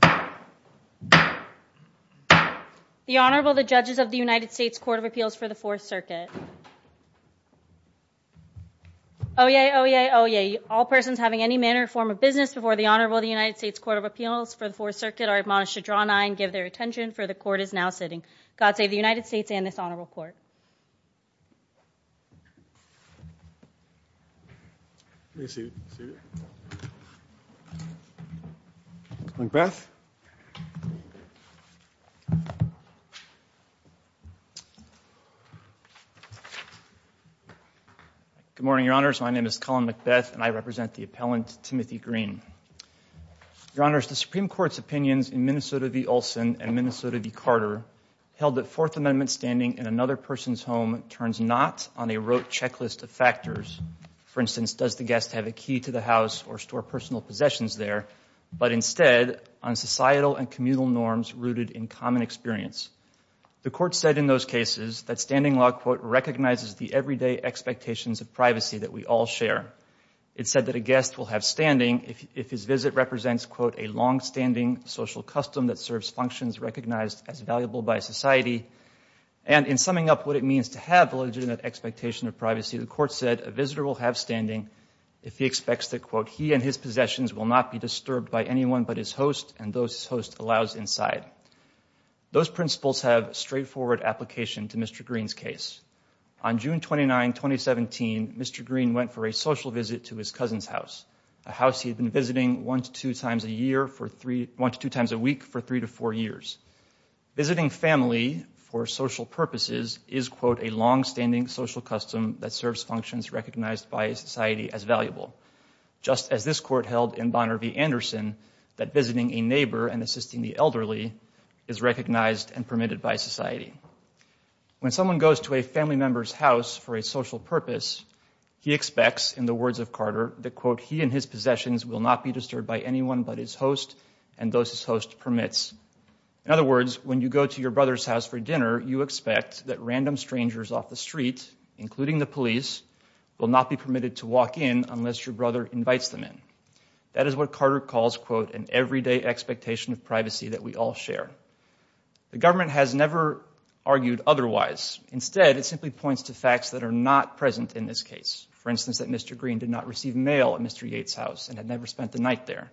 The Honorable, the Judges of the United States Court of Appeals for the Fourth Circuit. Oyez! Oyez! Oyez! All persons having any manner or form of business before the Honorable of the United States Court of Appeals for the Fourth Circuit are admonished to draw an eye and give their attention, for the Court is now sitting. God save the United States and this Honorable Court. Macbeth Good morning, Your Honors. My name is Colin Macbeth and I represent the appellant, Timothy Green. Your Honors, the Supreme Court's opinions in Minnesota v. Olson and Minnesota v. Carter held that Fourth Amendment standing in another person's home turns not on a rote checklist of factors, for instance, does the guest have a key to the house or store personal possessions there, but instead on societal and communal norms rooted in common experience. The Court said in those cases that standing law, quote, recognizes the everyday expectations of privacy that we all share. It said that a guest will have standing if his visit represents, quote, a longstanding social custom that serves functions recognized as valuable by society. And in summing up what it means to have a legitimate expectation of privacy, the Court said a visitor will have standing if he expects that, quote, he and his possessions will not be disturbed by anyone but his host and those his host allows inside. Those principles have straightforward application to Mr. Green's case. On June 29, 2017, Mr. Green went for a social visit to his cousin's house, a house he had been visiting one to two times a year for three, one to two times a week for three to four years. Visiting family for social purposes is, quote, a longstanding social custom that serves functions recognized by society as valuable, just as this Court held in Bonner v. Anderson that visiting a neighbor and assisting the elderly is recognized and permitted by society. When someone goes to a family member's house for a social purpose, he expects, in the words of Carter, that, quote, he and his possessions will not be disturbed by anyone but his host and those his host permits. In other words, when you go to your brother's house for dinner, you expect that random strangers off the street, including the police, will not be permitted to walk in unless your brother invites them in. That is what Carter calls, quote, an everyday expectation of privacy that we all share. The government has never argued otherwise. Instead, it simply points to facts that are not present in this case. For instance, that Mr. Green did not receive mail at Mr. Yates' house and had never spent the night there.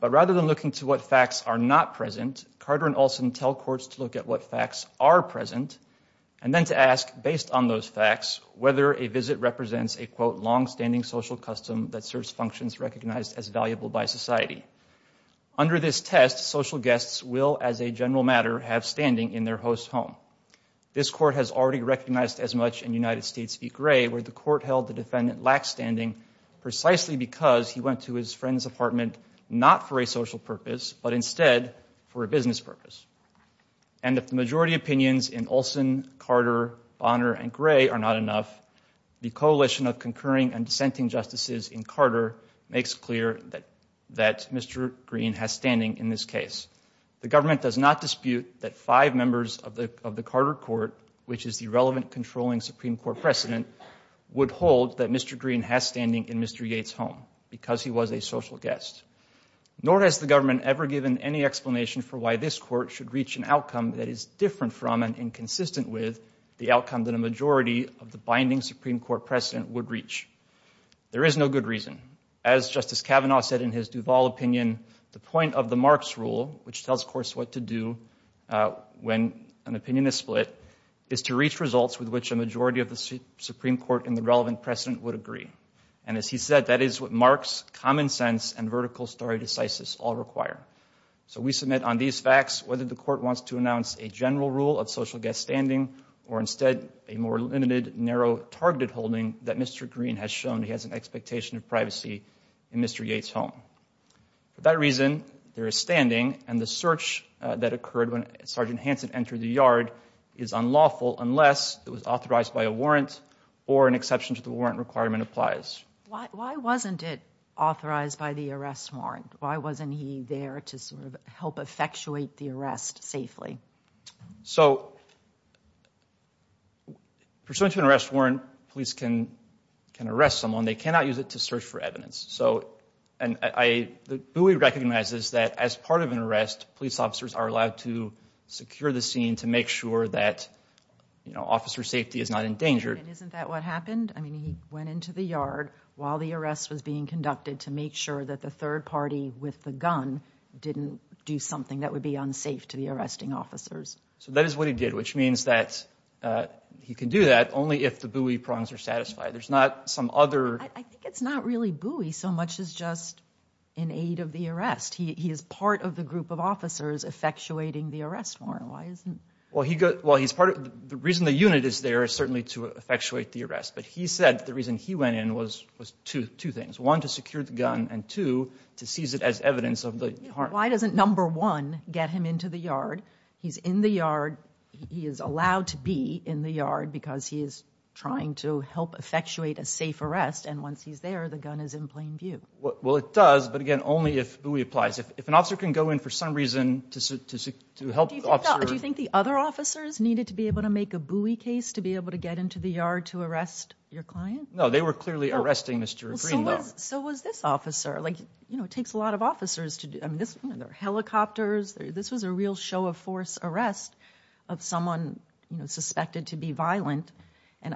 But rather than looking to what facts are not present, Carter and Olson tell courts to look at what facts are present and then to ask, based on those facts, whether a visit represents a, quote, longstanding social custom that serves functions recognized as valuable by society. Under this test, social guests will, as a general matter, have standing in their host's home. This court has already recognized as much in United States v. Gray, where the court held the defendant lacked standing precisely because he went to his friend's apartment not for a social purpose, but instead for a business purpose. And if the majority opinions in Olson, Carter, Bonner, and Gray are not enough, the coalition of Green has standing in this case. The government does not dispute that five members of the Carter court, which is the relevant controlling Supreme Court precedent, would hold that Mr. Green has standing in Mr. Yates' home because he was a social guest. Nor has the government ever given any explanation for why this court should reach an outcome that is different from and inconsistent with the outcome that a majority of the binding Supreme Court precedent would reach. There is no good reason. As Justice Kavanaugh said in his Duval opinion, the point of the Marx rule, which tells courts what to do when an opinion is split, is to reach results with which a majority of the Supreme Court and the relevant precedent would agree. And as he said, that is what Marx, common sense, and vertical stare decisis all require. So we submit on these facts whether the court wants to announce a general rule of social guest standing or instead a more limited, narrow, targeted holding that Mr. Green has shown he has an expectation of privacy in Mr. Yates' home. For that reason, there is standing and the search that occurred when Sergeant Hansen entered the yard is unlawful unless it was authorized by a warrant or an exception to the warrant requirement applies. Why wasn't it authorized by the arrest warrant? Why wasn't he there to sort of help effectuate the arrest safely? So pursuant to an arrest warrant, police can arrest someone. They cannot use it to search for evidence. So, and I, the way we recognize this is that as part of an arrest, police officers are allowed to secure the scene to make sure that, you know, officer safety is not endangered. And isn't that what happened? I mean, he went into the yard while the arrest was being conducted to make sure that the third party with the gun didn't do something that would be unsafe to the arresting officers. So that is what he did, which means that he can do that only if the buoy prongs are satisfied. There's not some other... I think it's not really buoy so much as just an aid of the arrest. He is part of the group of officers effectuating the arrest warrant. Why isn't... Well, he's part of, the reason the unit is there is certainly to effectuate the arrest. But he said the reason he went in was two things. One, to secure the gun, and two, to seize it as evidence of the harm. Why doesn't number one get him into the yard? He's in the yard. He is allowed to be in the yard because he is trying to help effectuate a safe arrest. And once he's there, the gun is in plain view. Well, it does, but again, only if buoy applies. If an officer can go in for some reason to help the officer... Do you think the other officers needed to be able to make a buoy case to be able to go into the yard to arrest your client? No, they were clearly arresting Mr. Green, though. So was this officer. It takes a lot of officers to... There were helicopters. This was a real show of force arrest of someone suspected to be violent. And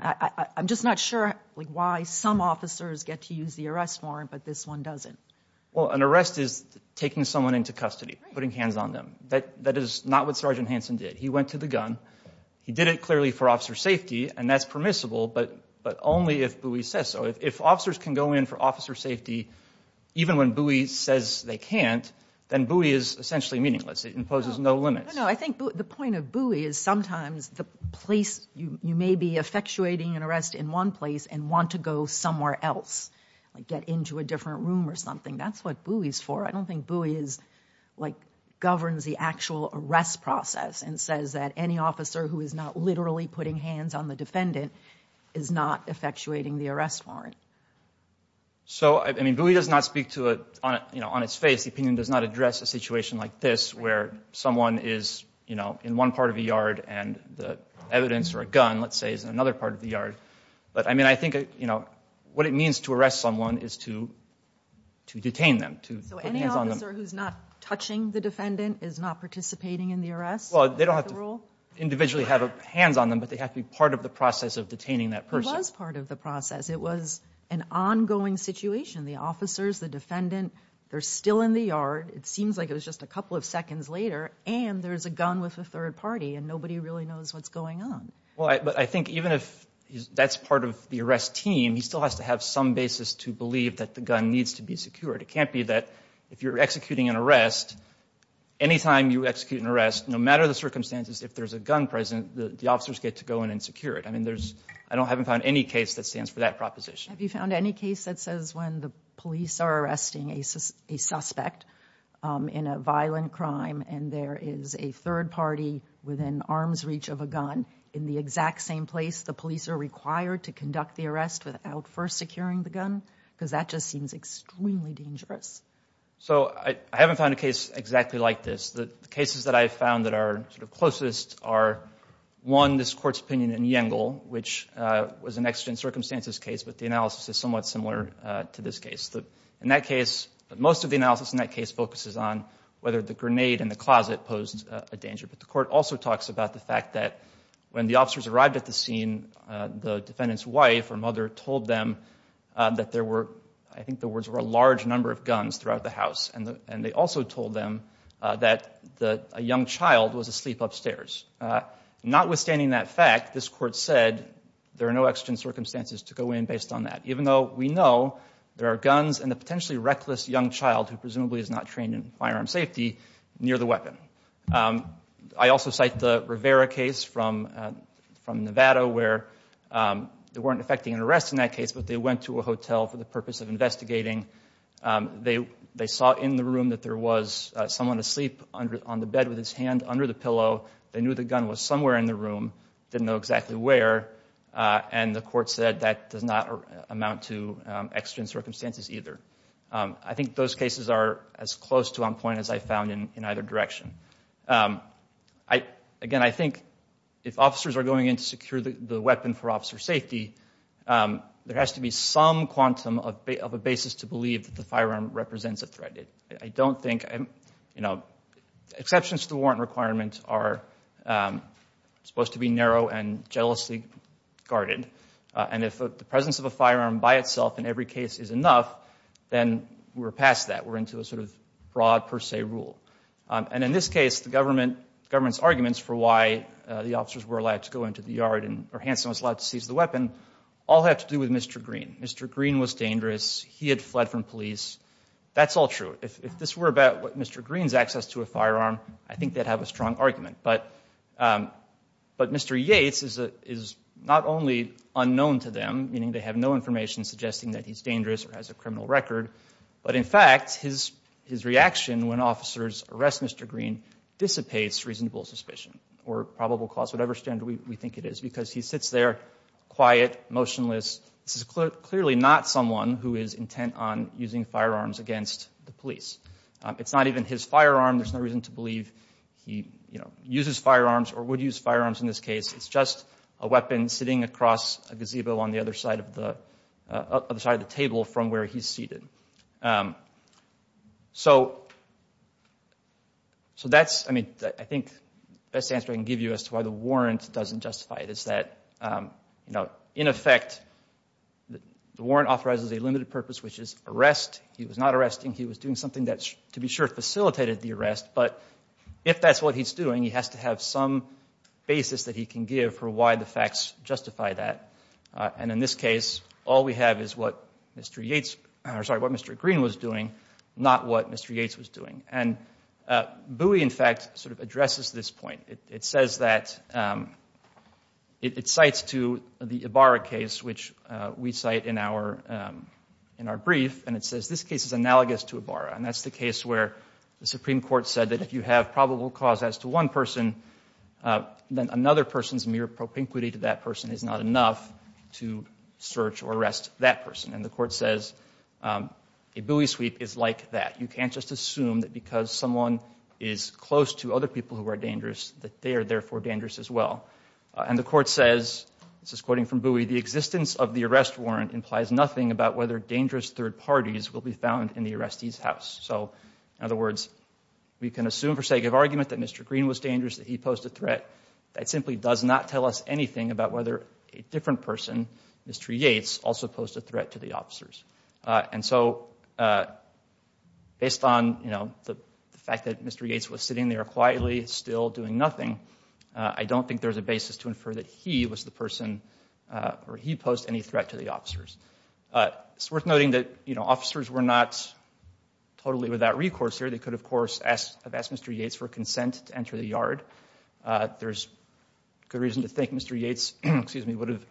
I'm just not sure why some officers get to use the arrest warrant, but this one doesn't. Well, an arrest is taking someone into custody, putting hands on them. That is not what Sergeant permissible, but only if buoy says so. If officers can go in for officer safety, even when buoy says they can't, then buoy is essentially meaningless. It imposes no limits. I think the point of buoy is sometimes the place you may be effectuating an arrest in one place and want to go somewhere else, like get into a different room or something. That's what buoy is for. I don't think buoy governs the actual arrest process and says that any hands on the defendant is not effectuating the arrest warrant. So buoy does not speak on its face. The opinion does not address a situation like this where someone is in one part of a yard and the evidence or a gun, let's say, is in another part of the yard. But I think what it means to arrest someone is to detain them, to put hands on them. So any officer who's not touching the defendant is not participating in the arrest? They don't have to individually have hands on them, but they have to be part of the process of detaining that person. It was part of the process. It was an ongoing situation. The officers, the defendant, they're still in the yard. It seems like it was just a couple of seconds later, and there's a gun with a third party, and nobody really knows what's going on. I think even if that's part of the arrest team, he still has to have some basis to believe that the gun needs to be secured. It can't be that if you're executing an arrest, anytime you execute an arrest, no matter the circumstances, if there's a gun present, the officers get to go in and secure it. I mean, I haven't found any case that stands for that proposition. Have you found any case that says when the police are arresting a suspect in a violent crime and there is a third party within arm's reach of a gun, in the exact same place the police are required to conduct the arrest without first securing the gun? Because that just seems extremely dangerous. So I haven't found a case exactly like this. The cases that I've found that are closest are one, this Court's opinion in Yengl, which was an exigent circumstances case, but the analysis is somewhat similar to this case. In that case, most of the analysis in that case focuses on whether the grenade in the closet posed a danger, but the Court also talks about the fact that when the officers arrived at the scene, the defendant's wife or mother told them that there were, I think the words were, a large number of guns throughout the house, and they also told them that a young child was asleep upstairs. Notwithstanding that fact, this Court said there are no exigent circumstances to go in based on that, even though we know there are guns and a potentially reckless young child who presumably is not trained in firearm safety near the weapon. I also cite the Rivera case from Nevada where they weren't effecting an arrest in that case, but they went to a hotel for the purpose of investigating. They saw in the room that there was someone asleep on the bed with his hand under the pillow. They knew the gun was somewhere in the room, didn't know exactly where, and the Court said that does not amount to exigent circumstances either. I think those cases are as close to on point as I've found in either direction. Again, I think if officers are going in to secure the weapon for officer safety, there has to be some quantum of a basis to believe that the firearm represents a threat. I don't think, you know, exceptions to the warrant requirement are supposed to be narrow and jealously guarded, and if the presence of a firearm by itself in every case is enough, then we're past that. We're into a sort of broad per se rule. And in this case, the government's arguments for why the officers were allowed to go into the yard, or Hansen was allowed to seize the weapon, all have to do with Mr. Green. Mr. Green was dangerous. He had fled from police. That's all true. If this were about Mr. Green's access to a firearm, I think they'd have a strong argument. But Mr. Yates is not only unknown to them, meaning they have no information suggesting that he's dangerous or has a criminal record, but in fact, his reaction when officers arrest Mr. Green dissipates reasonable suspicion or probable cause, whatever standard we think it is, because he sits there quiet, motionless. This is clearly not someone who is intent on using firearms against the police. It's not even his firearm. There's no reason to believe he, you know, uses firearms or would use firearms in this case. It's just a weapon sitting across a gazebo on the other side of the table from where he's seated. So, that's, I mean, I think the best answer I can give you as to why the warrant doesn't justify it is that, you know, in effect, the warrant authorizes a limited purpose, which is arrest. He was not arresting. He was doing something that, to be sure, facilitated the arrest. But if that's what he's doing, he has to have some basis that he can give for why the facts justify that. And in this case, all we have is what Mr. Yates, or sorry, what Mr. Green was doing, not what Mr. Yates was doing. And Bowie, in fact, sort of addresses this point. It says that it cites to the Ibarra case, which we cite in our brief, and it says this case is analogous to Ibarra. And that's the case where the Supreme Court said that if you have probable cause as to one person, then another person's mere propinquity to that person is not enough to search or arrest that person. And the Court says a Bowie sweep is like that. You can't just assume that because someone is close to other people who are dangerous that they are, therefore, dangerous as well. And the Court says, this is quoting from Bowie, the existence of the arrest warrant implies nothing about whether Mr. Green was dangerous, that he posed a threat. That simply does not tell us anything about whether a different person, Mr. Yates, also posed a threat to the officers. And so, based on, you know, the fact that Mr. Yates was sitting there quietly, still doing nothing, I don't think there's a basis to infer that he was the person, or he posed any threat to the officers. It's worth noting that, you know, officers were not totally without recourse here. They could, of course, have asked Mr. Yates for consent to enter the yard. There's good reason to think Mr. Yates, excuse me, would have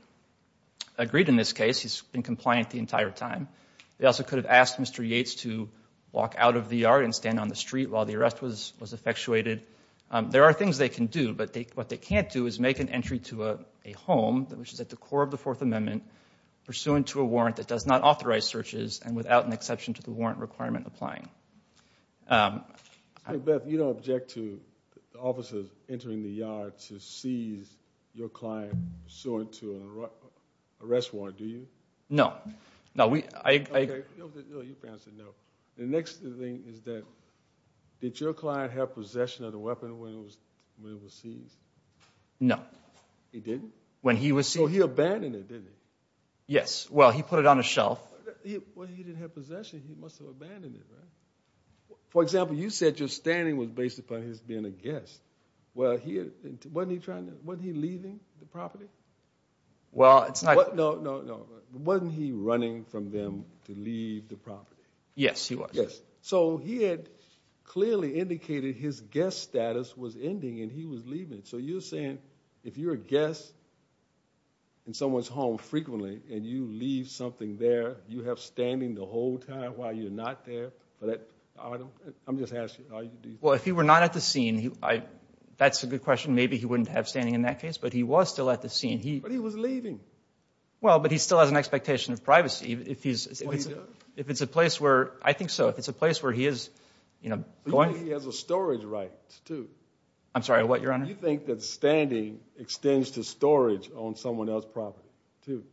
agreed in this case. He's been compliant the entire time. They also could have asked Mr. Yates to walk out of the yard and stand on the street while the arrest was effectuated. There are things they can do, but what they can't do is make an entry to a home, which is at the core of the Fourth Amendment, pursuant to a warrant that does not authorize searches and without an exception to the warrant requirement applying. Mr. McBeth, you don't object to the officers entering the yard to seize your client, pursuant to an arrest warrant, do you? No. Okay, no, you've answered no. The next thing is that, did your client have possession of the weapon when it was seized? No. He didn't? When he was seized. Oh, he abandoned it, didn't he? Yes. Well, he put it on a shelf. Well, he didn't have possession. He must have abandoned it, right? For example, you said your standing was based upon his being a guest. Wasn't he leaving the property? Well, it's not... No, no, no. Wasn't he running from them to leave the property? Yes, he was. Yes. So he had clearly indicated his guest status was ending and he was leaving. So you're a guest in someone's home frequently and you leave something there. You have standing the whole time while you're not there? I'm just asking. Well, if he were not at the scene, that's a good question. Maybe he wouldn't have standing in that case, but he was still at the scene. But he was leaving. Well, but he still has an expectation of privacy. Oh, he does? I think so. If it's a place where he is going... I'm sorry, what, Your Honor? Do you think that standing extends to storage on someone else's property, too?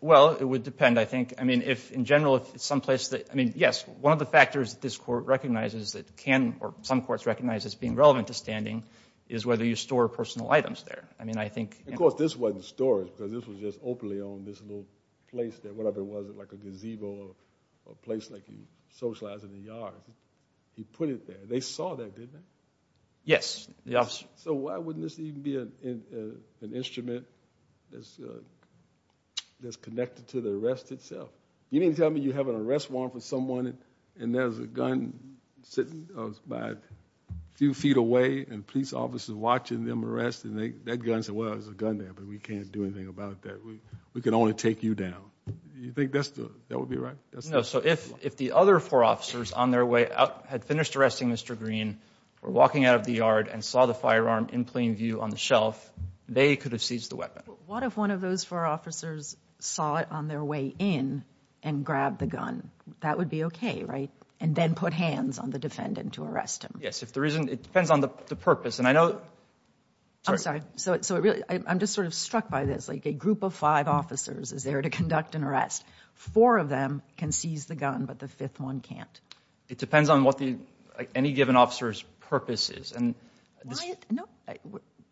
Well, it would depend, I think. I mean, if in general, if it's someplace that... I mean, yes, one of the factors that this Court recognizes that can or some courts recognize as being relevant to standing is whether you store personal items there. I mean, I think... Of course, this wasn't storage because this was just openly owned, this little place there, whatever it was, like a gazebo or a place like you socialize in the yard. He put it there. They saw that, didn't they? Yes. So why wouldn't this even be an instrument that's connected to the arrest itself? You didn't tell me you have an arrest warrant for someone and there's a gun sitting a few feet away and police officers watching them arrest and that gun says, well, there's a gun there, but we can't do anything about that. We can only take you down. Do you think that would be right? No, so if the other four officers on their way out had finished arresting Mr. Green, were walking out of the yard and saw the firearm in plain view on the shelf, they could have seized the weapon. What if one of those four officers saw it on their way in and grabbed the gun? That would be okay, right? And then put hands on the defendant to arrest him. Yes, if there isn't... It depends on the purpose and I know... I'm sorry. So I'm just sort of struck by this, like a group of five officers is there to conduct an arrest. Four of them can seize the gun, but the fifth one can't. It depends on what any given officer's purpose is and... No,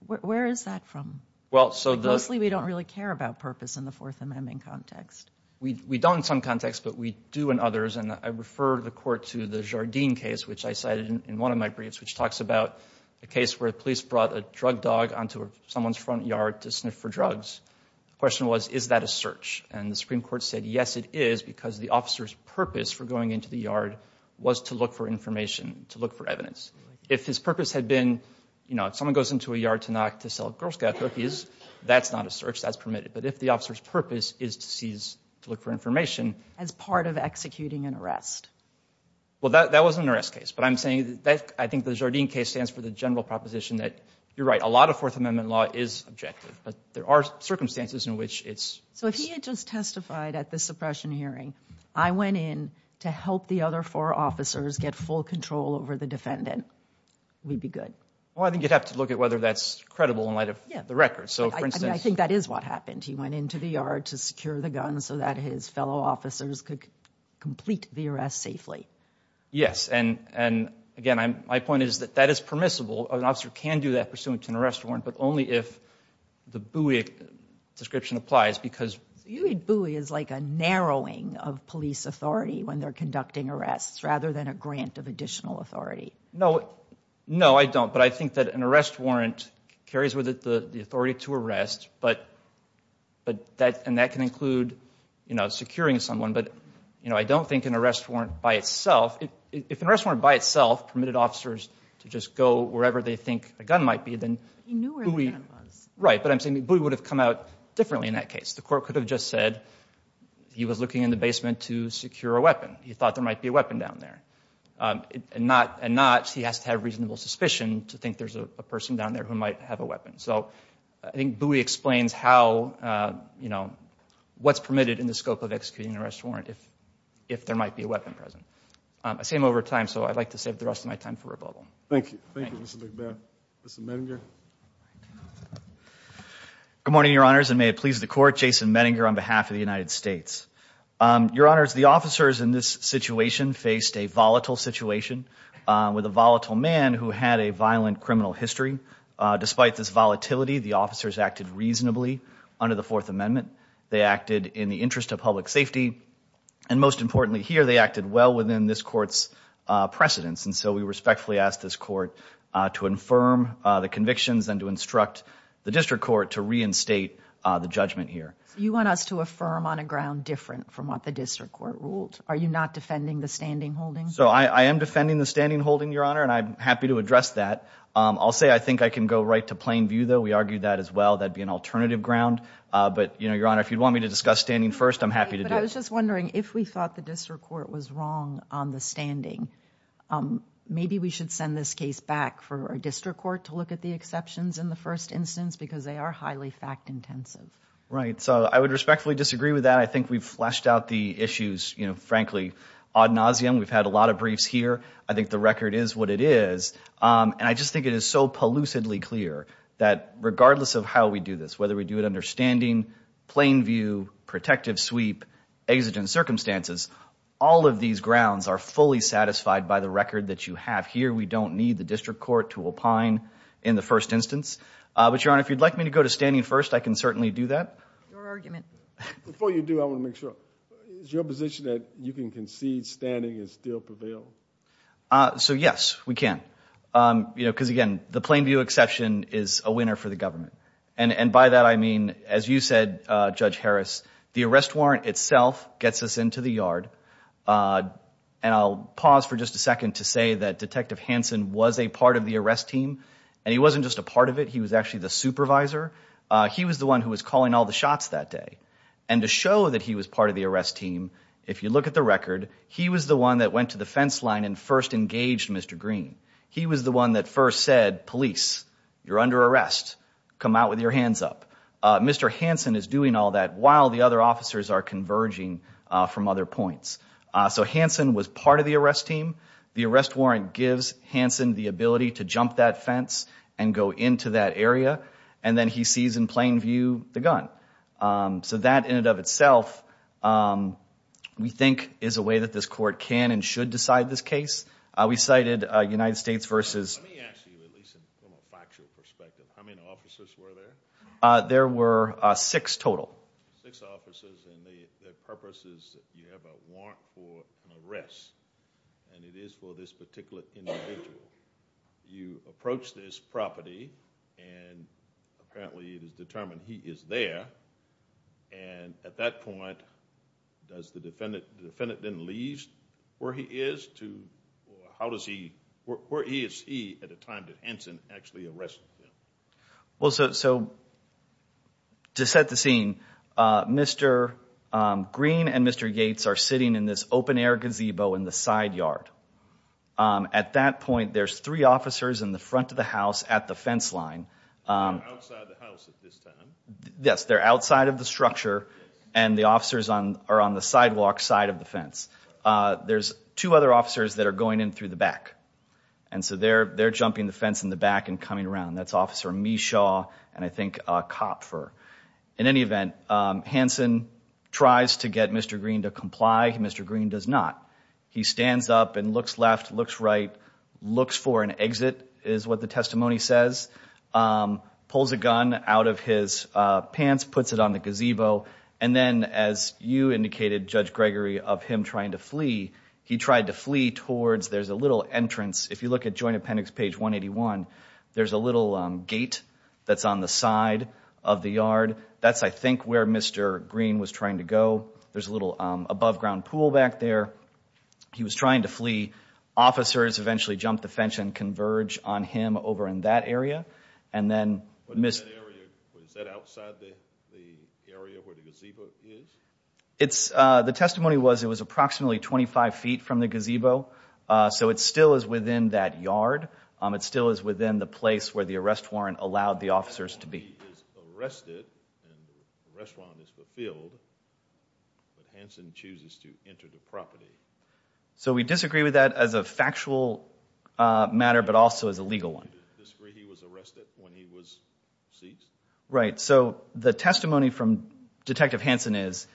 where is that from? Well, so the... Mostly we don't really care about purpose in the Fourth Amendment context. We don't in some contexts, but we do in others and I refer the court to the Jardine case which I cited in one of my briefs, which talks about a case where police brought a drug dog onto someone's front yard to sniff for drugs. The question was, is that a search? And the Supreme Court said yes it is because the officer's purpose for going into the yard was to look for information, to look for evidence. If his purpose had been, you know, if someone goes into a yard to knock to sell Girl Scout cookies, that's not a search, that's permitted. But if the officer's purpose is to seize, to look for information... As part of executing an arrest. Well, that was an arrest case, but I'm saying that... I think the Jardine case stands for the general proposition that you're right, a lot of Fourth Amendment law is objective, but there are circumstances in which it's... So if he had just testified at the suppression hearing, I went in to help the other four officers get full control over the defendant, we'd be good? Well, I think you'd have to look at whether that's credible in light of the record. So, for instance... I think that is what happened. He went into the yard to secure the gun so that his fellow officers could complete the arrest safely. Yes, and again, my point is that that is permissible. An officer can do that pursuant to an arrest warrant, but only if the Bowie description applies, because... So you think Bowie is like a narrowing of police authority when they're conducting arrests, rather than a grant of additional authority? No, I don't, but I think that an arrest warrant carries with it the authority to arrest, and that can include securing someone, but I don't think an arrest warrant by itself... If an arrest warrant by itself permitted officers to just go wherever they think a gun might be, then... Right, but I'm saying Bowie would have come out differently in that case. The court could have just said he was looking in the basement to secure a weapon. He thought there might be a weapon down there. And not, he has to have reasonable suspicion to think there's a person down there who might have a weapon. So, I think Bowie explains how, you know, what's permitted in the scope of executing an arrest warrant if there might be a weapon present. I've seen him over time, so I'd like to save the rest of my time for a bubble. Thank you. Thank you, Mr. McMahon. Mr. Menninger. Good morning, Your Honors, and may it please the court, Jason Menninger on behalf of the United States. Your Honors, the officers in this situation faced a volatile situation with a volatile man who had a violent criminal history. Despite this volatility, the officers acted reasonably under the Fourth Amendment. They acted in the interest of public safety, and most importantly here, they acted well within this court's precedence. And so, we respectfully ask this court to infirm the convictions and to instruct the district court to reinstate the judgment here. You want us to affirm on a ground different from what the district court ruled. Are you not defending the standing holding? So, I am defending the standing holding, Your Honor, and I'm happy to address that. I'll say I think I can go right to plain view, though. We argued that as well. That'd be an alternative ground. But, you know, Your Honor, if you'd want me to discuss standing first, I'm happy to do it. But I was just wondering if we thought the district court was wrong on the standing, maybe we should send this case back for a district court to look at the exceptions in the first instance because they are highly fact-intensive. Right. So, I would respectfully disagree with that. I think we've fleshed out the issues, you know, frankly, ad nauseum. We've had a lot of briefs here. I think the record is what it is. And I just think it is so pollucedly clear that regardless of how we do this, whether we do it understanding, plain view, protective sweep, exigent circumstances, all of these grounds are fully satisfied by the record that you have here. We don't need the district court to opine in the first instance. But, Your Honor, if you'd like me to go to standing first, I can certainly do that. Your argument. Before you do, I want to make sure. Is your position that you can concede standing and still prevail? So, yes, we can. You know, because, again, the plain view exception is a winner for the government. And by that, I mean, as you said, Judge Harris, the arrest warrant itself gets us into the yard. And I'll pause for just a second to say that Detective Hanson was a part of the arrest team. And he wasn't just a part of it. He was actually the supervisor. He was the one who was calling all the shots that day. And to show that he was part of the arrest team, if you look at the record, he was the one that went to the fence line and first engaged Mr. Green. He was the one that first said, police, you're under arrest. Come out with your hands up. Mr. Hanson is doing all that while the other officers are converging from other points. So Hanson was part of the arrest team. The arrest warrant gives Hanson the ability to jump that fence and go into that area. And then he sees in plain view the gun. So that, in and of itself, we think is a way that this court can and should decide this case. We cited United States versus... Let me ask you, at least from a factual perspective, how many officers were there? There were six total. Six officers, and the purpose is that you have a warrant for an arrest. And it is for this particular individual. You approach this property, and apparently it is determined he is there. And at that point, does the defendant... The defendant then leaves where he is to... How does he... Where is he at the time that Hanson actually arrested him? Well, so... To set the scene, Mr. Green and Mr. Yates are sitting in this open-air gazebo in the side yard. At that point, there's three officers in the front of the house at the fence line. They're outside the house at this time? Yes, they're outside of the structure, and the officers are on the sidewalk side of the fence. There's two other officers that are going in through the back. And so they're jumping the fence in the back and coming around. That's Officer Meshaw and, I think, Kopfer. In any event, Hanson tries to get Mr. Green to comply. Mr. Green does not. He stands up and looks left, looks right, looks for an exit, is what the testimony says, pulls a gun out of his pants, puts it on the gazebo, and then, as you indicated, Judge Gregory, of him trying to flee, he tried to flee towards... There's a little entrance. If you look at Joint Appendix page 181, there's a little gate that's on the side of the yard. That's, I think, where Mr. Green was trying to go. There's a little above-ground pool back there. He was trying to flee. Officers eventually jumped the fence and converged on him over in that area. And then... Was that outside the area where the gazebo is? The testimony was it was approximately 25 feet from the gazebo, so it still is within that yard. It still is within the place where the arrest warrant allowed the officers to be. He is arrested, and the arrest warrant is fulfilled, but Hansen chooses to enter the property. So we disagree with that as a factual matter but also as a legal one. Do you disagree he was arrested when he was seized? Right, so the testimony from Detective Hansen is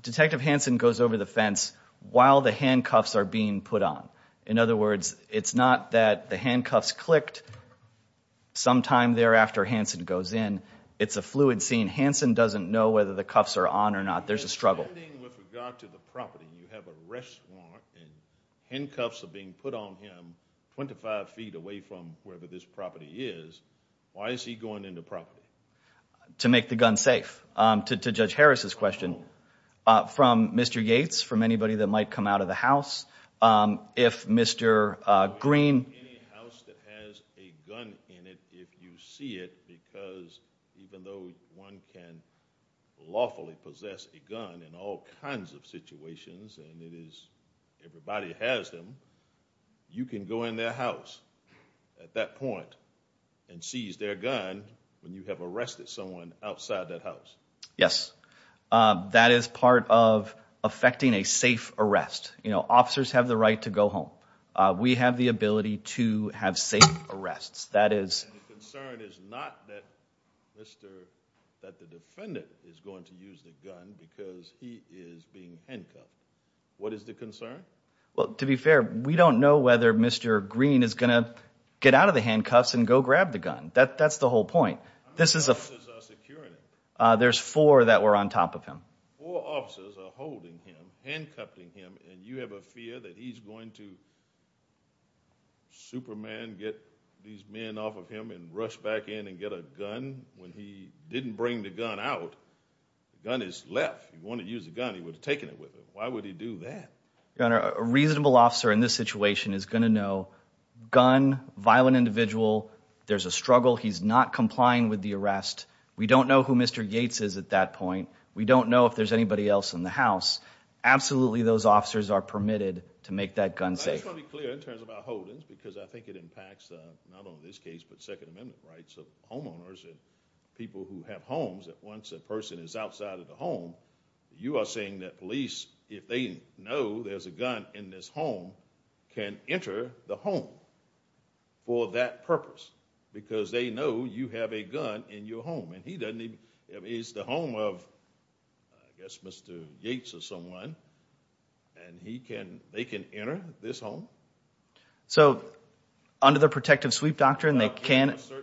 Detective Hansen goes over the fence while the handcuffs are being put on. In other words, it's not that the handcuffs clicked sometime thereafter Hansen goes in. It's a fluid scene. Hansen doesn't know whether the cuffs are on or not. There's a struggle. With regard to the property, you have an arrest warrant and handcuffs are being put on him 25 feet away from wherever this property is. Why is he going in the property? To make the gun safe. To Judge Harris's question, from Mr. Yates, from anybody that might come out of the house, if Mr. Green... Any house that has a gun in it, if you see it, because even though one can lawfully possess a gun in all kinds of situations, and everybody has them, you can go in their house at that point and seize their gun when you have arrested someone outside that house. Yes, that is part of effecting a safe arrest. Officers have the right to go home. We have the ability to have safe arrests. And the concern is not that the defendant is going to use the gun because he is being handcuffed. What is the concern? To be fair, we don't know whether Mr. Green is going to get out of the handcuffs and go grab the gun. That's the whole point. How many officers are securing him? There's four that were on top of him. Four officers are holding him, handcuffing him, and you have a fear that he's going to Superman, get these men off of him and rush back in and get a gun when he didn't bring the gun out. The gun is left. If he wanted to use the gun, he would have taken it with him. Why would he do that? Your Honor, a reasonable officer in this situation is going to know gun, violent individual, there's a struggle, he's not complying with the arrest. We don't know who Mr. Yates is at that point. We don't know if there's anybody else in the house. Absolutely, those officers are permitted to make that gun safe. I just want to be clear in terms of our holdings because I think it impacts not only this case but Second Amendment rights of homeowners and people who have homes that once a person is outside of the home, you are saying that police, if they know there's a gun in this home, can enter the home for that purpose because they know you have a gun in your home. It's the home of, I guess, Mr. Yates or someone, and they can enter this home? So under the protective sweep doctrine, they can enter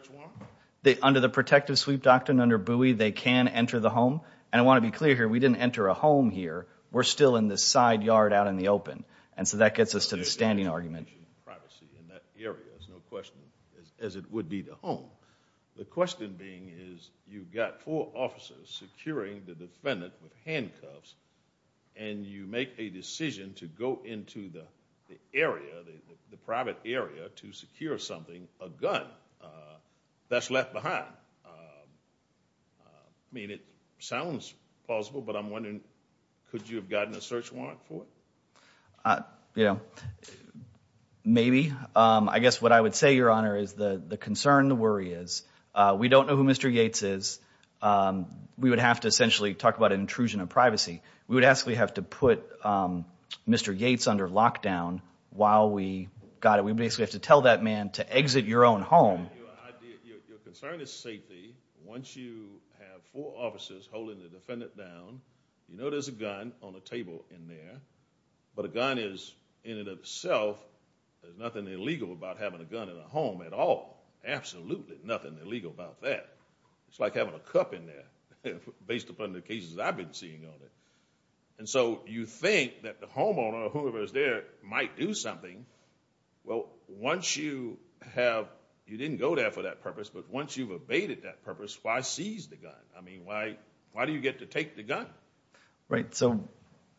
the home. And I want to be clear here, we didn't enter a home here. We're still in this side yard out in the open. And so that gets us to the standing argument. Privacy in that area is no question as it would be the home. The question being is you've got four officers securing the defendant with handcuffs and you make a decision to go into the area, the private area, to secure something, a gun, that's left behind. I mean, it sounds plausible, but I'm wondering, could you have gotten a search warrant for it? You know, maybe. I guess what I would say, Your Honor, is the concern, the worry is we don't know who Mr. Yates is. We would have to essentially talk about an intrusion of privacy. We would actually have to put Mr. Yates under lockdown while we got him. We basically have to tell that man to exit your own home. Your concern is safety. Once you have four officers holding the defendant down, you know there's a gun on the table in there, but a gun is in and of itself, there's nothing illegal about having a gun in a home at all. Absolutely nothing illegal about that. It's like having a cup in there, based upon the cases I've been seeing on it. And so you think that the homeowner or whoever is there might do something. Well, once you have, you didn't go there for that purpose, but once you've abated that purpose, why seize the gun? I mean, why do you get to take the gun? Right, so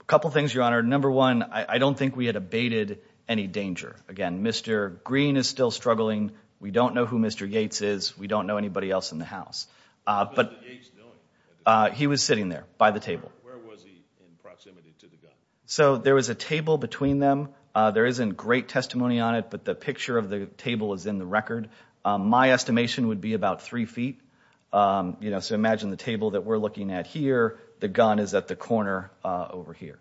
a couple things, Your Honor. Number one, I don't think we had abated any danger. Again, Mr. Green is still struggling. We don't know who Mr. Yates is. We don't know anybody else in the house. What was Mr. Yates doing? He was sitting there by the table. Where was he in proximity to the gun? So there was a table between them. There isn't great testimony on it, but the picture of the table is in the record. My estimation would be about three feet. So imagine the table that we're looking at here, the gun is at the corner over here.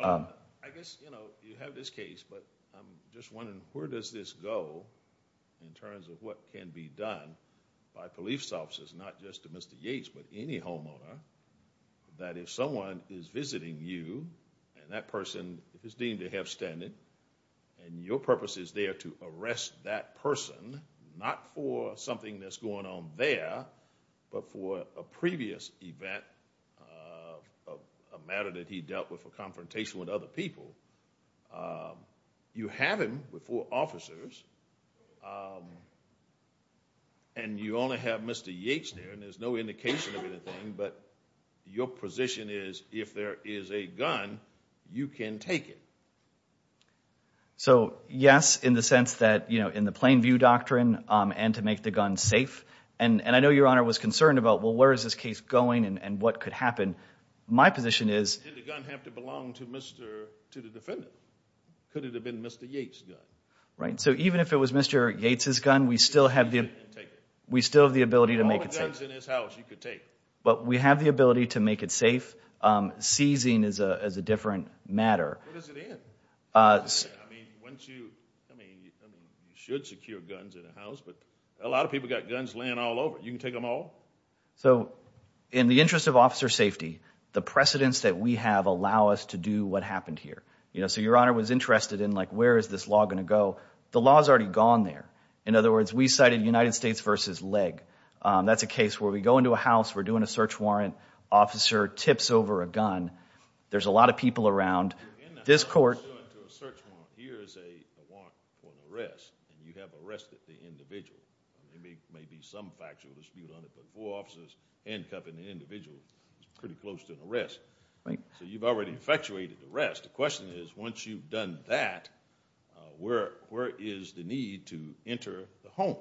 I guess, you know, you have this case, but I'm just wondering where does this go in terms of what can be done by police officers, not just to Mr. Yates, but any homeowner, that if someone is visiting you and that person is deemed to have standed and your purpose is there to arrest that person, not for something that's going on there, but for a previous event, a matter that he dealt with, a confrontation with other people, you have him with four officers, and you only have Mr. Yates there, and there's no indication of anything, but your position is if there is a gun, you can take it. So, yes, in the sense that, you know, in the plain view doctrine and to make the gun safe, and I know Your Honor was concerned about, well, where is this case going and what could happen? My position is... Did the gun have to belong to the defendant? Could it have been Mr. Yates' gun? Right, so even if it was Mr. Yates' gun, we still have the ability to make it safe. All the guns in his house you could take. But we have the ability to make it safe. Seizing is a different matter. What does it end? I mean, you should secure guns in a house, but a lot of people got guns laying all over. You can take them all? So in the interest of officer safety, the precedents that we have allow us to do what happened here. You know, so Your Honor was interested in, like, where is this law going to go? The law's already gone there. In other words, we cited United States v. Legg. That's a case where we go into a house, we're doing a search warrant, officer tips over a gun. There's a lot of people around. This court... Here is a warrant for an arrest, and you have arrested the individual. There may be some factual dispute on it, but four officers handcuffing an individual is pretty close to an arrest. So you've already effectuated the arrest. The question is, once you've done that, where is the need to enter the home?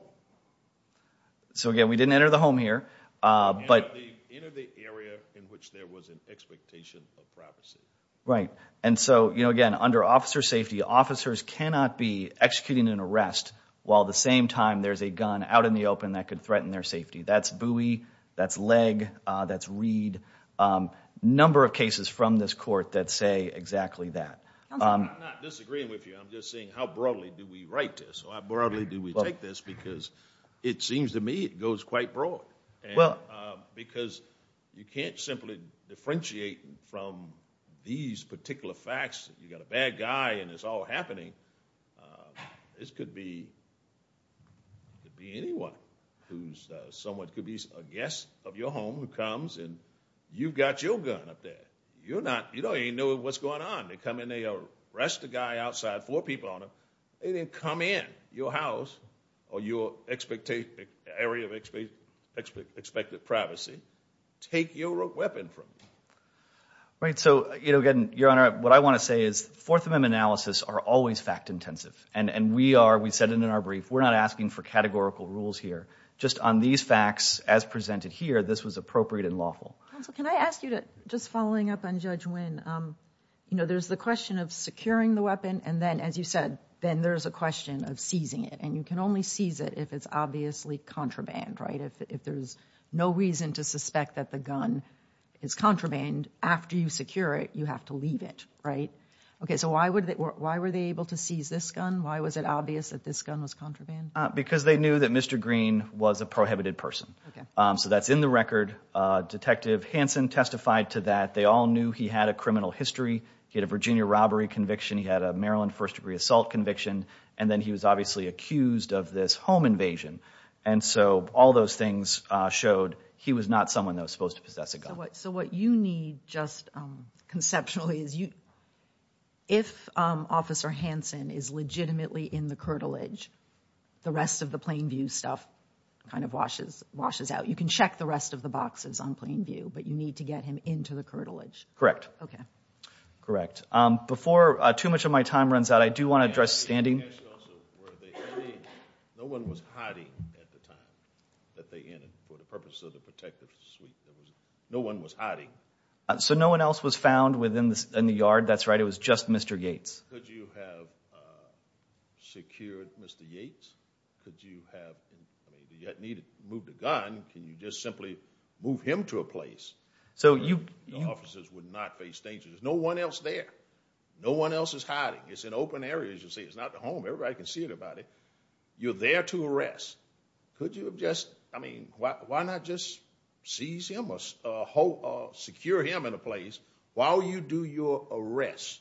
So again, we didn't enter the home here, but... Enter the area in which there was an expectation of privacy. Right, and so, you know, again, under officer safety, the officers cannot be executing an arrest while at the same time there's a gun out in the open that could threaten their safety. That's Bowie, that's Legg, that's Reed. A number of cases from this court that say exactly that. Counsel, I'm not disagreeing with you. I'm just saying, how broadly do we write this? Or how broadly do we take this? Because it seems to me it goes quite broad. Because you can't simply differentiate from these particular facts. You've got a bad guy and it's all happening. This could be anyone. Someone could be a guest of your home who comes and you've got your gun up there. You don't even know what's going on. They come in, they arrest the guy outside, four people on him. They didn't come in your house or your area of expected privacy. Take your weapon from them. Your Honor, what I want to say is Fourth Amendment analysis are always fact intensive. And we are, we said it in our brief, we're not asking for categorical rules here. Just on these facts, as presented here, this was appropriate and lawful. Counsel, can I ask you, just following up on Judge Wynn, there's the question of securing the weapon and then, as you said, there's a question of seizing it. And you can only seize it if it's obviously contraband. If there's no reason to suspect that the gun is contraband, after you secure it, you have to leave it, right? Okay, so why were they able to seize this gun? Why was it obvious that this gun was contraband? Because they knew that Mr. Green was a prohibited person. So that's in the record. Detective Hanson testified to that. They all knew he had a criminal history. He had a Virginia robbery conviction. He had a Maryland first-degree assault conviction. And then he was obviously accused of this home invasion. And so all those things showed he was not someone that was supposed to possess a gun. So what you need, just conceptually, is if Officer Hanson is legitimately in the curtilage, the rest of the Plainview stuff kind of washes out. You can check the rest of the boxes on Plainview, but you need to get him into the curtilage. Correct. Okay. Correct. Before too much of my time runs out, I do want to address standing. No one was hiding at the time that they entered for the purpose of the protective suite. No one was hiding. So no one else was found in the yard? That's right. It was just Mr. Yates. Could you have secured Mr. Yates? Could you have moved the gun? Can you just simply move him to a place where the officers would not face danger? There's no one else there. No one else is hiding. It's an open area, as you say. It's not the home. Everybody can see everybody. You're there to arrest. Why not just seize him or secure him in a place while you do your arrest?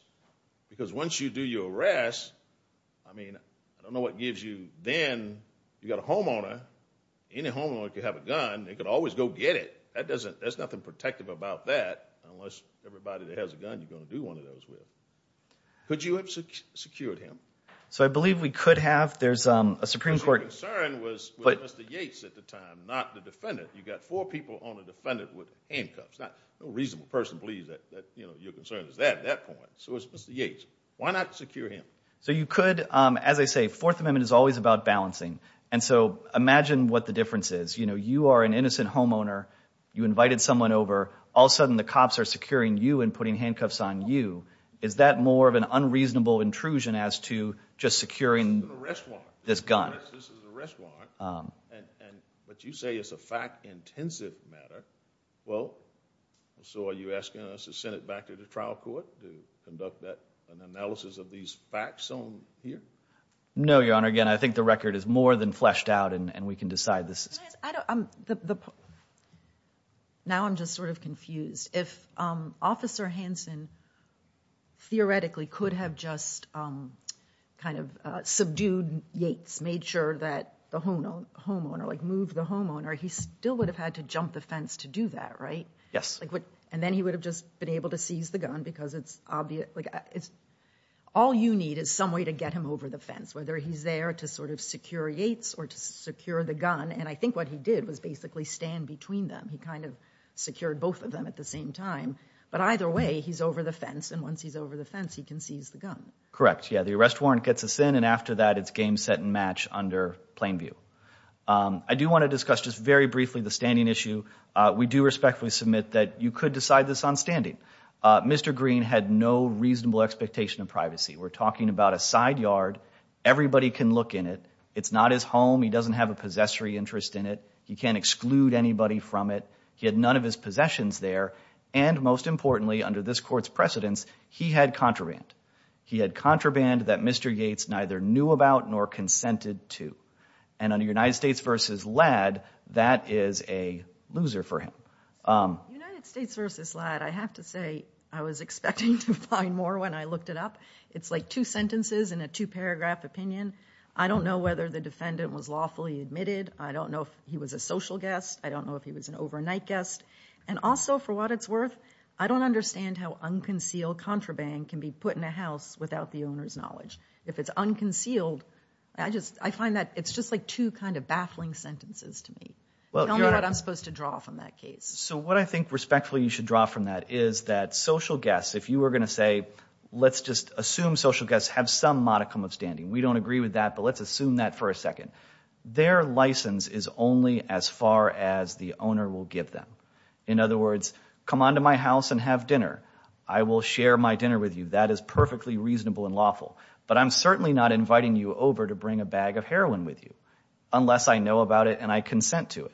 Because once you do your arrest, I don't know what gives you then. You've got a homeowner. Any homeowner could have a gun. They could always go get it. There's nothing protective about that unless everybody that has a gun you're going to do one of those with. Could you have secured him? I believe we could have. Your concern was with Mr. Yates at the time, not the defendant. You've got four people on a defendant with handcuffs. No reasonable person believes that your concern is that at that point, so it's Mr. Yates. Why not secure him? As I say, Fourth Amendment is always about balancing. Imagine what the difference is. You are an innocent homeowner. You invited someone over. All of a sudden, the cops are securing you and putting handcuffs on you. Is that more of an unreasonable intrusion as to just securing? This is an arrest warrant. This gun. This is an arrest warrant. But you say it's a fact-intensive matter. Well, so are you asking us to send it back to the trial court to conduct an analysis of these facts on here? No, Your Honor. Again, I think the record is more than fleshed out and we can decide this. Now I'm just sort of confused. If Officer Hanson theoretically could have just kind of subdued Yates, made sure that the homeowner, like moved the homeowner, he still would have had to jump the fence to do that, right? Yes. And then he would have just been able to seize the gun because it's obvious. All you need is some way to get him over the fence, whether he's there to sort of secure Yates or to secure the gun. And I think what he did was basically stand between them. He kind of secured both of them at the same time. But either way, he's over the fence and once he's over the fence, he can seize the gun. Correct. Yeah, the arrest warrant gets us in and after that, it's game, set, and match under plain view. I do want to discuss just very briefly the standing issue. We do respectfully submit that you could decide this on standing. Mr. Green had no reasonable expectation of privacy. We're talking about a side yard. Everybody can look in it. It's not his home. He doesn't have a possessory interest in it. He can't exclude anybody from it. He had none of his possessions there. And most importantly, under this court's precedence, he had contraband. He had contraband that Mr. Yates neither knew about nor consented to. And under United States v. Ladd, that is a loser for him. United States v. Ladd, I have to say, I was expecting to find more when I looked it up. It's like two sentences in a two-paragraph opinion. I don't know whether the defendant was lawfully admitted. I don't know if he was a social guest. I don't know if he was an overnight guest. And also, for what it's worth, I don't understand how unconcealed contraband can be put in a house without the owner's knowledge. If it's unconcealed, I find that it's just like two kind of baffling sentences to me. Tell me what I'm supposed to draw from that case. So what I think respectfully you should draw from that is that social guests, if you were going to say, let's just assume social guests have some modicum of standing. We don't agree with that, but let's assume that for a second. Their license is only as far as the owner will give them. In other words, come on to my house and have dinner. I will share my dinner with you. That is perfectly reasonable and lawful. But I'm certainly not inviting you over to bring a bag of heroin with you unless I know about it and I consent to it.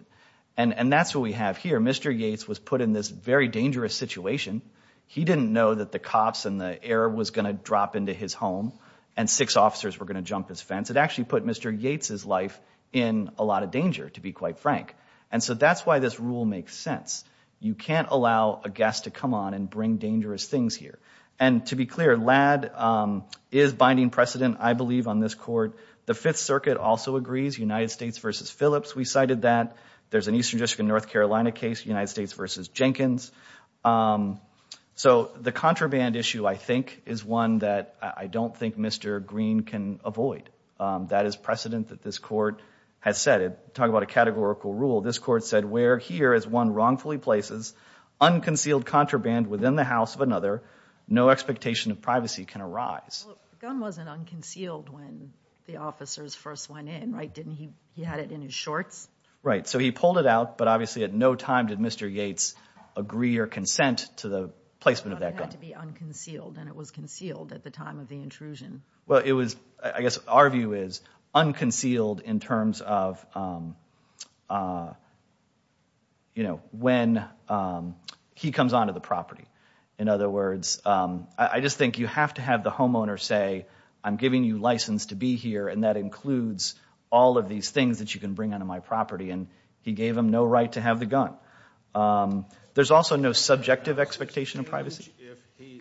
And that's what we have here. Mr. Yates was put in this very dangerous situation. He didn't know that the cops and the air was going to drop into his home and six officers were going to jump his fence. It actually put Mr. Yates' life in a lot of danger, to be quite frank. And so that's why this rule makes sense. You can't allow a guest to come on and bring dangerous things here. And to be clear, LAD is binding precedent, I believe, on this court. The Fifth Circuit also agrees, United States v. Phillips, we cited that. There's an Eastern District of North Carolina case, United States v. Jenkins. So the contraband issue, I think, is one that I don't think Mr. Green can avoid. That is precedent that this court has set. To talk about a categorical rule, this court said, where here is one wrongfully places unconcealed contraband within the house of another, no expectation of privacy can arise. The gun wasn't unconcealed when the officers first went in, right? He had it in his shorts? Right, so he pulled it out, but obviously at no time did Mr. Yates agree or consent to the placement of that gun. It had to be unconcealed, and it was concealed at the time of the intrusion. Well, it was, I guess our view is, unconcealed in terms of, you know, when he comes onto the property. In other words, I just think you have to have the homeowner say, I'm giving you license to be here, and that includes all of these things that you can bring onto my property, and he gave him no right to have the gun. There's also no subjective expectation of privacy.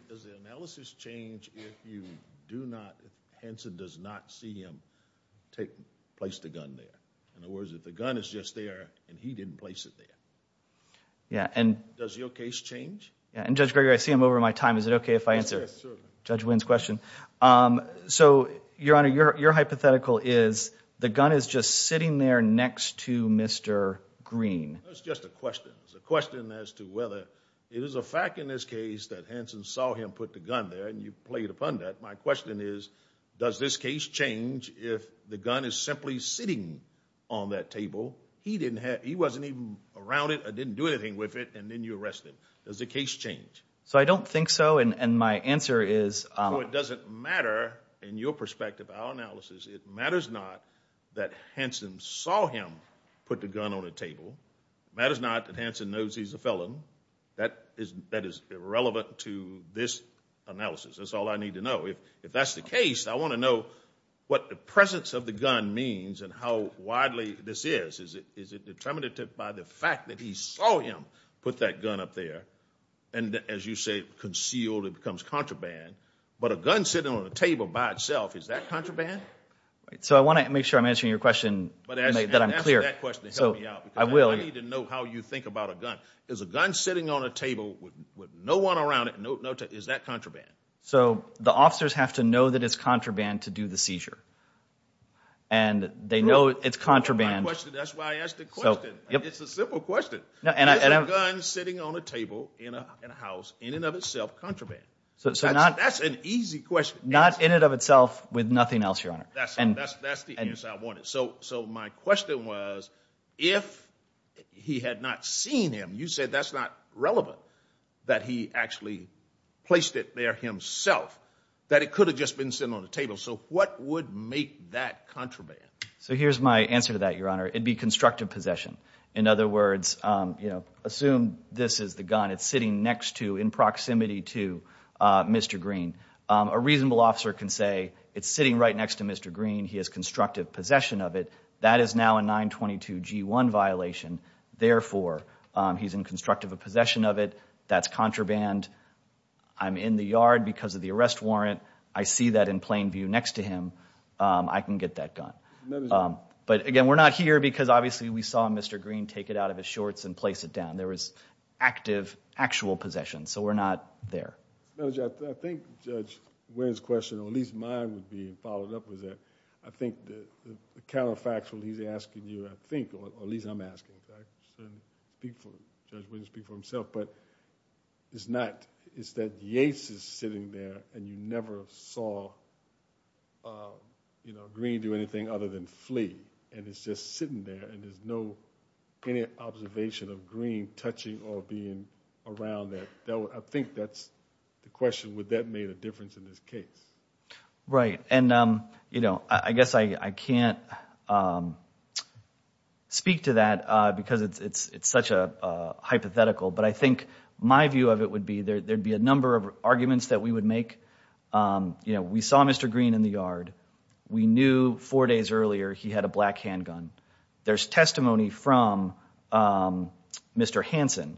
Does the analysis change if you do not, if Henson does not see him place the gun there? In other words, if the gun is just there, and he didn't place it there, does your case change? Yeah, and Judge Gregory, I see I'm over my time. Is it okay if I answer Judge Wynn's question? So, Your Honor, your hypothetical is the gun is just sitting there next to Mr. Green. It's just a question. It's a question as to whether, it is a fact in this case that Henson saw him put the gun there, and you've played upon that. My question is, does this case change if the gun is simply sitting on that table? He didn't have, he wasn't even around it, or didn't do anything with it, and then you arrest him. Does the case change? So I don't think so, and my answer is... So it doesn't matter, in your perspective, our analysis, it matters not that Henson saw him put the gun on the table. It matters not that Henson knows he's a felon. That is irrelevant to this analysis. That's all I need to know. If that's the case, I want to know what the presence of the gun means and how widely this is. Is it determinative by the fact that he saw him put that gun up there, and as you say, concealed, it becomes contraband. But a gun sitting on a table by itself, is that contraband? So I want to make sure I'm answering your question, that I'm clear. I need to know how you think about a gun. Is a gun sitting on a table with no one around it, is that contraband? So the officers have to know that it's contraband to do the seizure. And they know it's contraband. That's why I asked the question. It's a simple question. Is a gun sitting on a table in a house, in and of itself, contraband? That's an easy question. Not in and of itself, with nothing else, Your Honor. That's the answer I wanted. So my question was, if he had not seen him, you said that's not relevant, that he actually placed it there himself, that it could have just been sitting on a table. So what would make that contraband? So here's my answer to that, Your Honor. It'd be constructive possession. In other words, assume this is the gun. It's sitting next to, in proximity to Mr. Green. A reasonable officer can say, it's sitting right next to Mr. Green. He has constructive possession of it. That is now a 922G1 violation. Therefore, he's in constructive possession of it. That's contraband. I'm in the yard because of the arrest warrant. I see that in plain view next to him. I can get that gun. But again, we're not here because, obviously, we saw Mr. Green take it out of his shorts and place it down. There was active, actual possession. So we're not there. I think Judge Winn's question, at least mine would be followed up with that, I think the counterfactual he's asking you, I think, or at least I'm asking, because I certainly speak for Judge Winn, speak for himself, but it's that Yates is sitting there and you never saw Green do anything other than flee. And it's just sitting there and there's no observation of Green touching or being around that. I think that's the question. Would that make a difference in this case? Right. And, you know, I guess I can't speak to that because it's such a hypothetical, but I think my view of it would be there would be a number of arguments that we would make. You know, we saw Mr. Green in the yard. We knew four days earlier he had a black handgun. There's testimony from Mr. Hanson,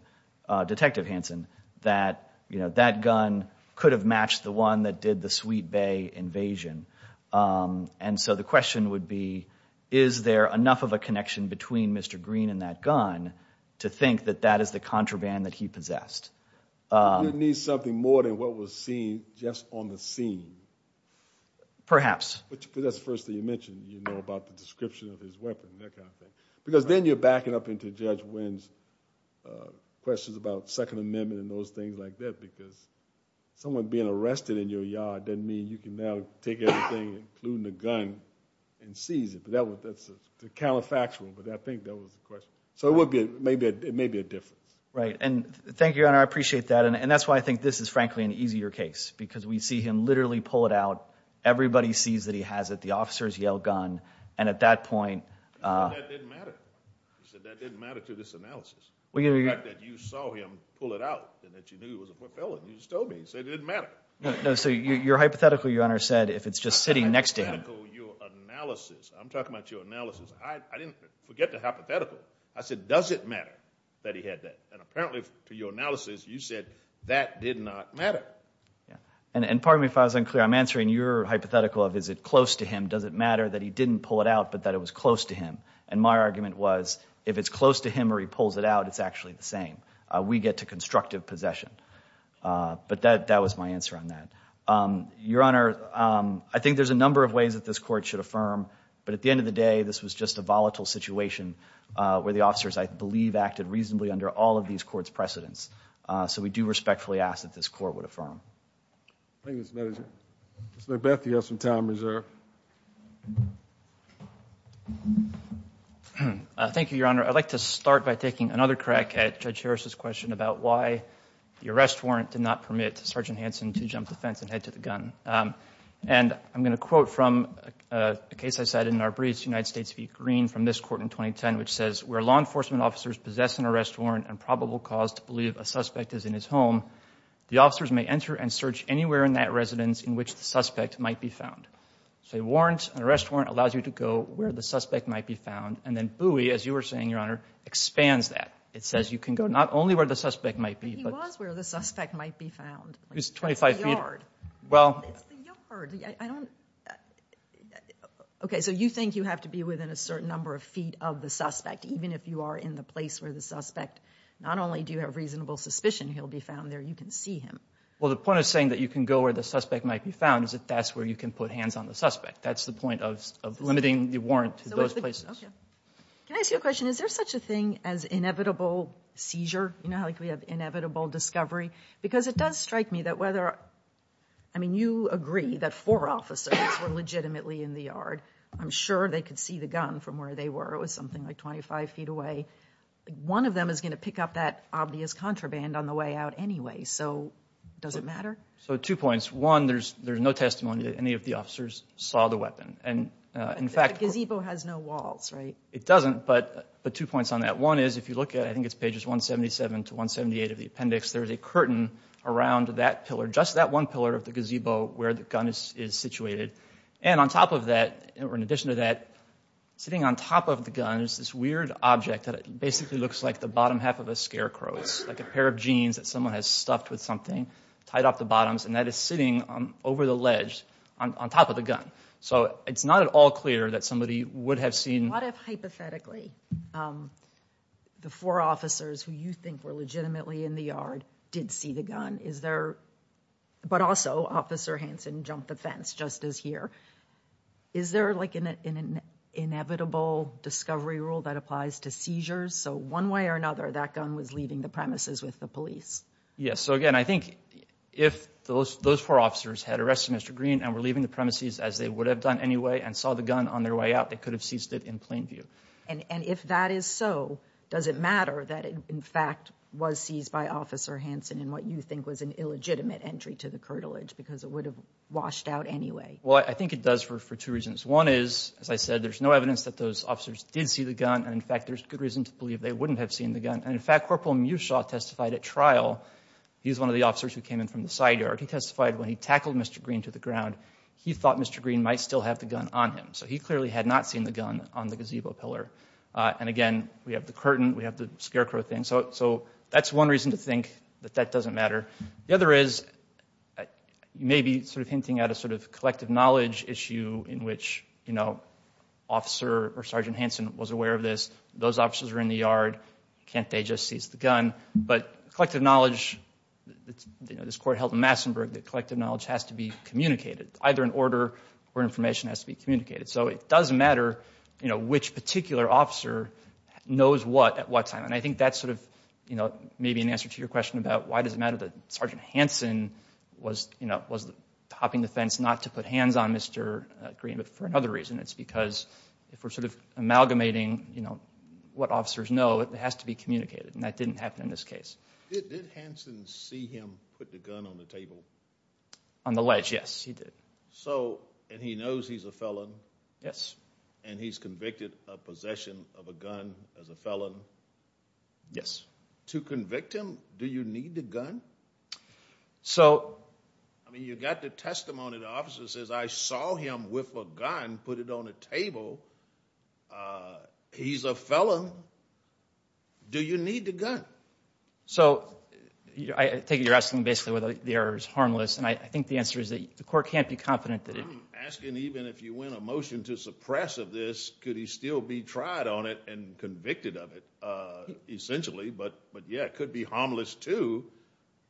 Detective Hanson, that, you know, that gun could have matched the one that did the Sweet Bay invasion. And so the question would be, is there enough of a connection between Mr. Green and that gun to think that that is the contraband that he possessed? You need something more than what was seen just on the scene. Perhaps. That's the first thing you mentioned, you know, about the description of his weapon, that kind of thing. Because then you're backing up into Judge Winn's questions about Second Amendment and those things like that because someone being arrested in your yard doesn't mean you can now take everything, including the gun, and seize it. But that's a counterfactual. But I think that was the question. So it may be a difference. Right. And thank you, Your Honor. I appreciate that. And that's why I think this is, frankly, an easier case because we see him literally pull it out. Everybody sees that he has it. The officers yell, gun. And at that point... You said that didn't matter. You said that didn't matter to this analysis. The fact that you saw him pull it out and that you knew it was a foot felon, you just told me. You said it didn't matter. So your hypothetical, Your Honor, said if it's just sitting next to him... Hypothetical? Your analysis. I'm talking about your analysis. I didn't forget the hypothetical. I said, does it matter that he had that? And apparently, to your analysis, you said that did not matter. And pardon me if I was unclear. I'm answering your hypothetical of is it close to him, does it matter that he didn't pull it out but that it was close to him. And my argument was, if it's close to him or he pulls it out, it's actually the same. We get to constructive possession. But that was my answer on that. Your Honor, I think there's a number of ways that this Court should affirm. But at the end of the day, this was just a volatile situation where the officers, I believe, acted reasonably under all of these courts' precedents. So we do respectfully ask that this Court would affirm. Thank you, Mr. Manager. Mr. LaBeth, you have some time reserved. Thank you, Your Honor. I'd like to start by taking another crack at Judge Harris's question about why the arrest warrant did not permit Sergeant Hansen to jump the fence and head to the gun. And I'm going to quote from a case I cited in our briefs, United States v. Green, from this court in 2010, which says, where law enforcement officers possess an arrest warrant and probable cause to believe a suspect is in his home, the officers may enter and search anywhere in that residence in which the suspect might be found. So a warrant, an arrest warrant, allows you to go where the suspect might be found, and then Bowie, as you were saying, Your Honor, expands that. It says you can go not only where the suspect might be, but... But he was where the suspect might be found. He was 25 feet... It's the yard. Well... It's the yard. I don't... Okay, so you think you have to be within a certain number of feet of the suspect, even if you are in the place where the suspect... Not only do you have reasonable suspicion he'll be found there, you can see him. Well, the point of saying that you can go where the suspect might be found is that that's where you can put hands on the suspect. That's the point of limiting the warrant to those places. Can I ask you a question? Is there such a thing as inevitable seizure? You know, like we have inevitable discovery? Because it does strike me that whether... I mean, you agree that four officers were legitimately in the yard. I'm sure they could see the gun from where they were. It was something like 25 feet away. One of them is going to pick up that obvious contraband on the way out anyway, so does it matter? So two points. One, there's no testimony that any of the officers saw the weapon, and in fact... The gazebo has no walls, right? It doesn't, but two points on that. One is, if you look at... I think it's pages 177 to 178 of the appendix, there's a curtain around that pillar, just that one pillar of the gazebo where the gun is situated. And on top of that, or in addition to that, sitting on top of the gun is this weird object that basically looks like the bottom half of a scarecrow. It's like a pair of jeans that someone has stuffed with something, tied off the bottoms, and that is sitting over the ledge on top of the gun. So it's not at all clear that somebody would have seen... What if, hypothetically, the four officers who you think were legitimately in the yard did see the gun? Is there... But also, Officer Hanson jumped the fence, just as here. Is there, like, an inevitable discovery rule that applies to seizures? So one way or another, that gun was leaving the premises with the police. Yes, so again, I think if those four officers had arrested Mr. Green and were leaving the premises as they would have done anyway and saw the gun on their way out, they could have seized it in plain view. And if that is so, does it matter that it, in fact, was seized by Officer Hanson in what you think was an illegitimate entry to the curtilage because it would have washed out anyway? Well, I think it does for two reasons. One is, as I said, there's no evidence that those officers did see the gun, and in fact, there's good reason to believe they wouldn't have seen the gun. And in fact, Corporal Mushaw testified at trial. He's one of the officers who came in from the side yard. He testified when he tackled Mr. Green to the ground, he thought Mr. Green might still have the gun on him. So he clearly had not seen the gun on the gazebo pillar. And again, we have the curtain, we have the scarecrow thing. So that's one reason to think that that doesn't matter. The other is, you may be sort of hinting at a sort of collective knowledge issue in which, you know, Officer or Sergeant Hanson was aware of this. Those officers are in the yard. Can't they just seize the gun? But collective knowledge, you know, this court held in Massenburg that collective knowledge has to be communicated, either in order or information has to be communicated. So it does matter, you know, which particular officer knows what at what time. And I think that's sort of, you know, maybe an answer to your question about why does it matter that Sergeant Hanson was, you know, was hopping the fence not to put hands on Mr. Green. But for another reason, it's because if we're sort of amalgamating, you know, what officers know, it has to be communicated. And that didn't happen in this case. Did Hanson see him put the gun on the table? On the ledge, yes, he did. So, and he knows he's a felon? Yes. And he's convicted of possession of a gun as a felon? Yes. To convict him, do you need the gun? So... I mean, you got the testimony. The officer says, I saw him with a gun, put it on a table. He's a felon. Do you need the gun? So, I think you're asking basically whether the error is harmless. And I think the answer is that the court can't be confident that it... I'm asking even if you win a motion to suppress of this, could he still be tried on it and convicted of it, essentially? But, yeah, it could be harmless too.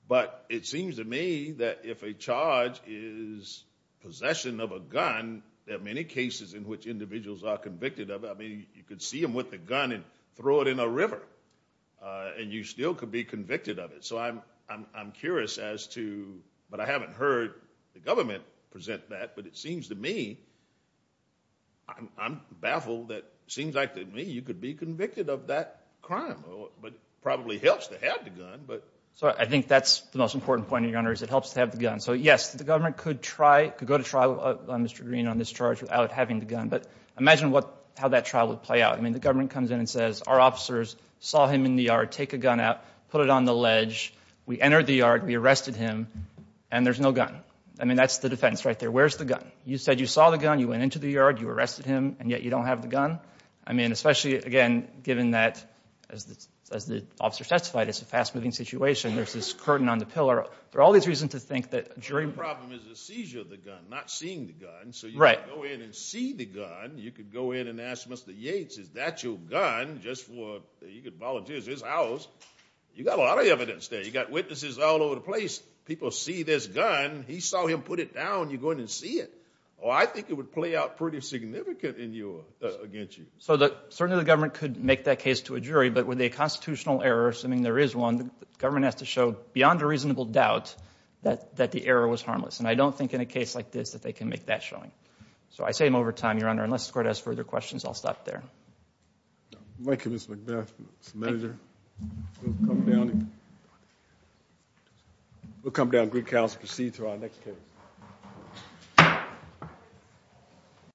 But it seems to me that if a charge is possession of a gun, there are many cases in which individuals are convicted of it. I mean, you could see them with a gun and throw it in a river and you still could be convicted of it. So, I'm curious as to... But I haven't heard the government present that, but it seems to me... I'm baffled that it seems like to me you could be convicted of that crime. But it probably helps to have the gun, but... So, I think that's the most important point, Your Honor, is it helps to have the gun. So, yes, the government could try, could go to trial on Mr. Green on this charge without having the gun. But imagine how that trial would play out. I mean, the government comes in and says, our officers saw him in the yard, take a gun out, put it on the ledge, we entered the yard, we arrested him, and there's no gun. I mean, that's the defense right there. Where's the gun? You said you saw the gun, you went into the yard, you arrested him, and yet you don't have the gun? I mean, especially, again, given that, as the officer testified, it's a fast-moving situation. There's this curtain on the pillar. There are all these reasons to think that a jury... Your problem is the seizure of the gun, not seeing the gun. Right. So you could go in and see the gun. You could go in and ask Mr. Yates, is that your gun? You could volunteer at his house. You've got a lot of evidence there. You've got witnesses all over the place. People see this gun. He saw him put it down. You go in and see it. I think it would play out pretty significantly against you. So certainly the government could make that case to a jury, but with a constitutional error, assuming there is one, the government has to show, beyond a reasonable doubt, that the error was harmless. And I don't think in a case like this that they can make that showing. So I say them over time, Your Honor. Unless the Court has further questions, I'll stop there. Thank you, Mr. McBeth. Mr. Manager. We'll come down and... We'll come down and greet counsel to proceed to our next case.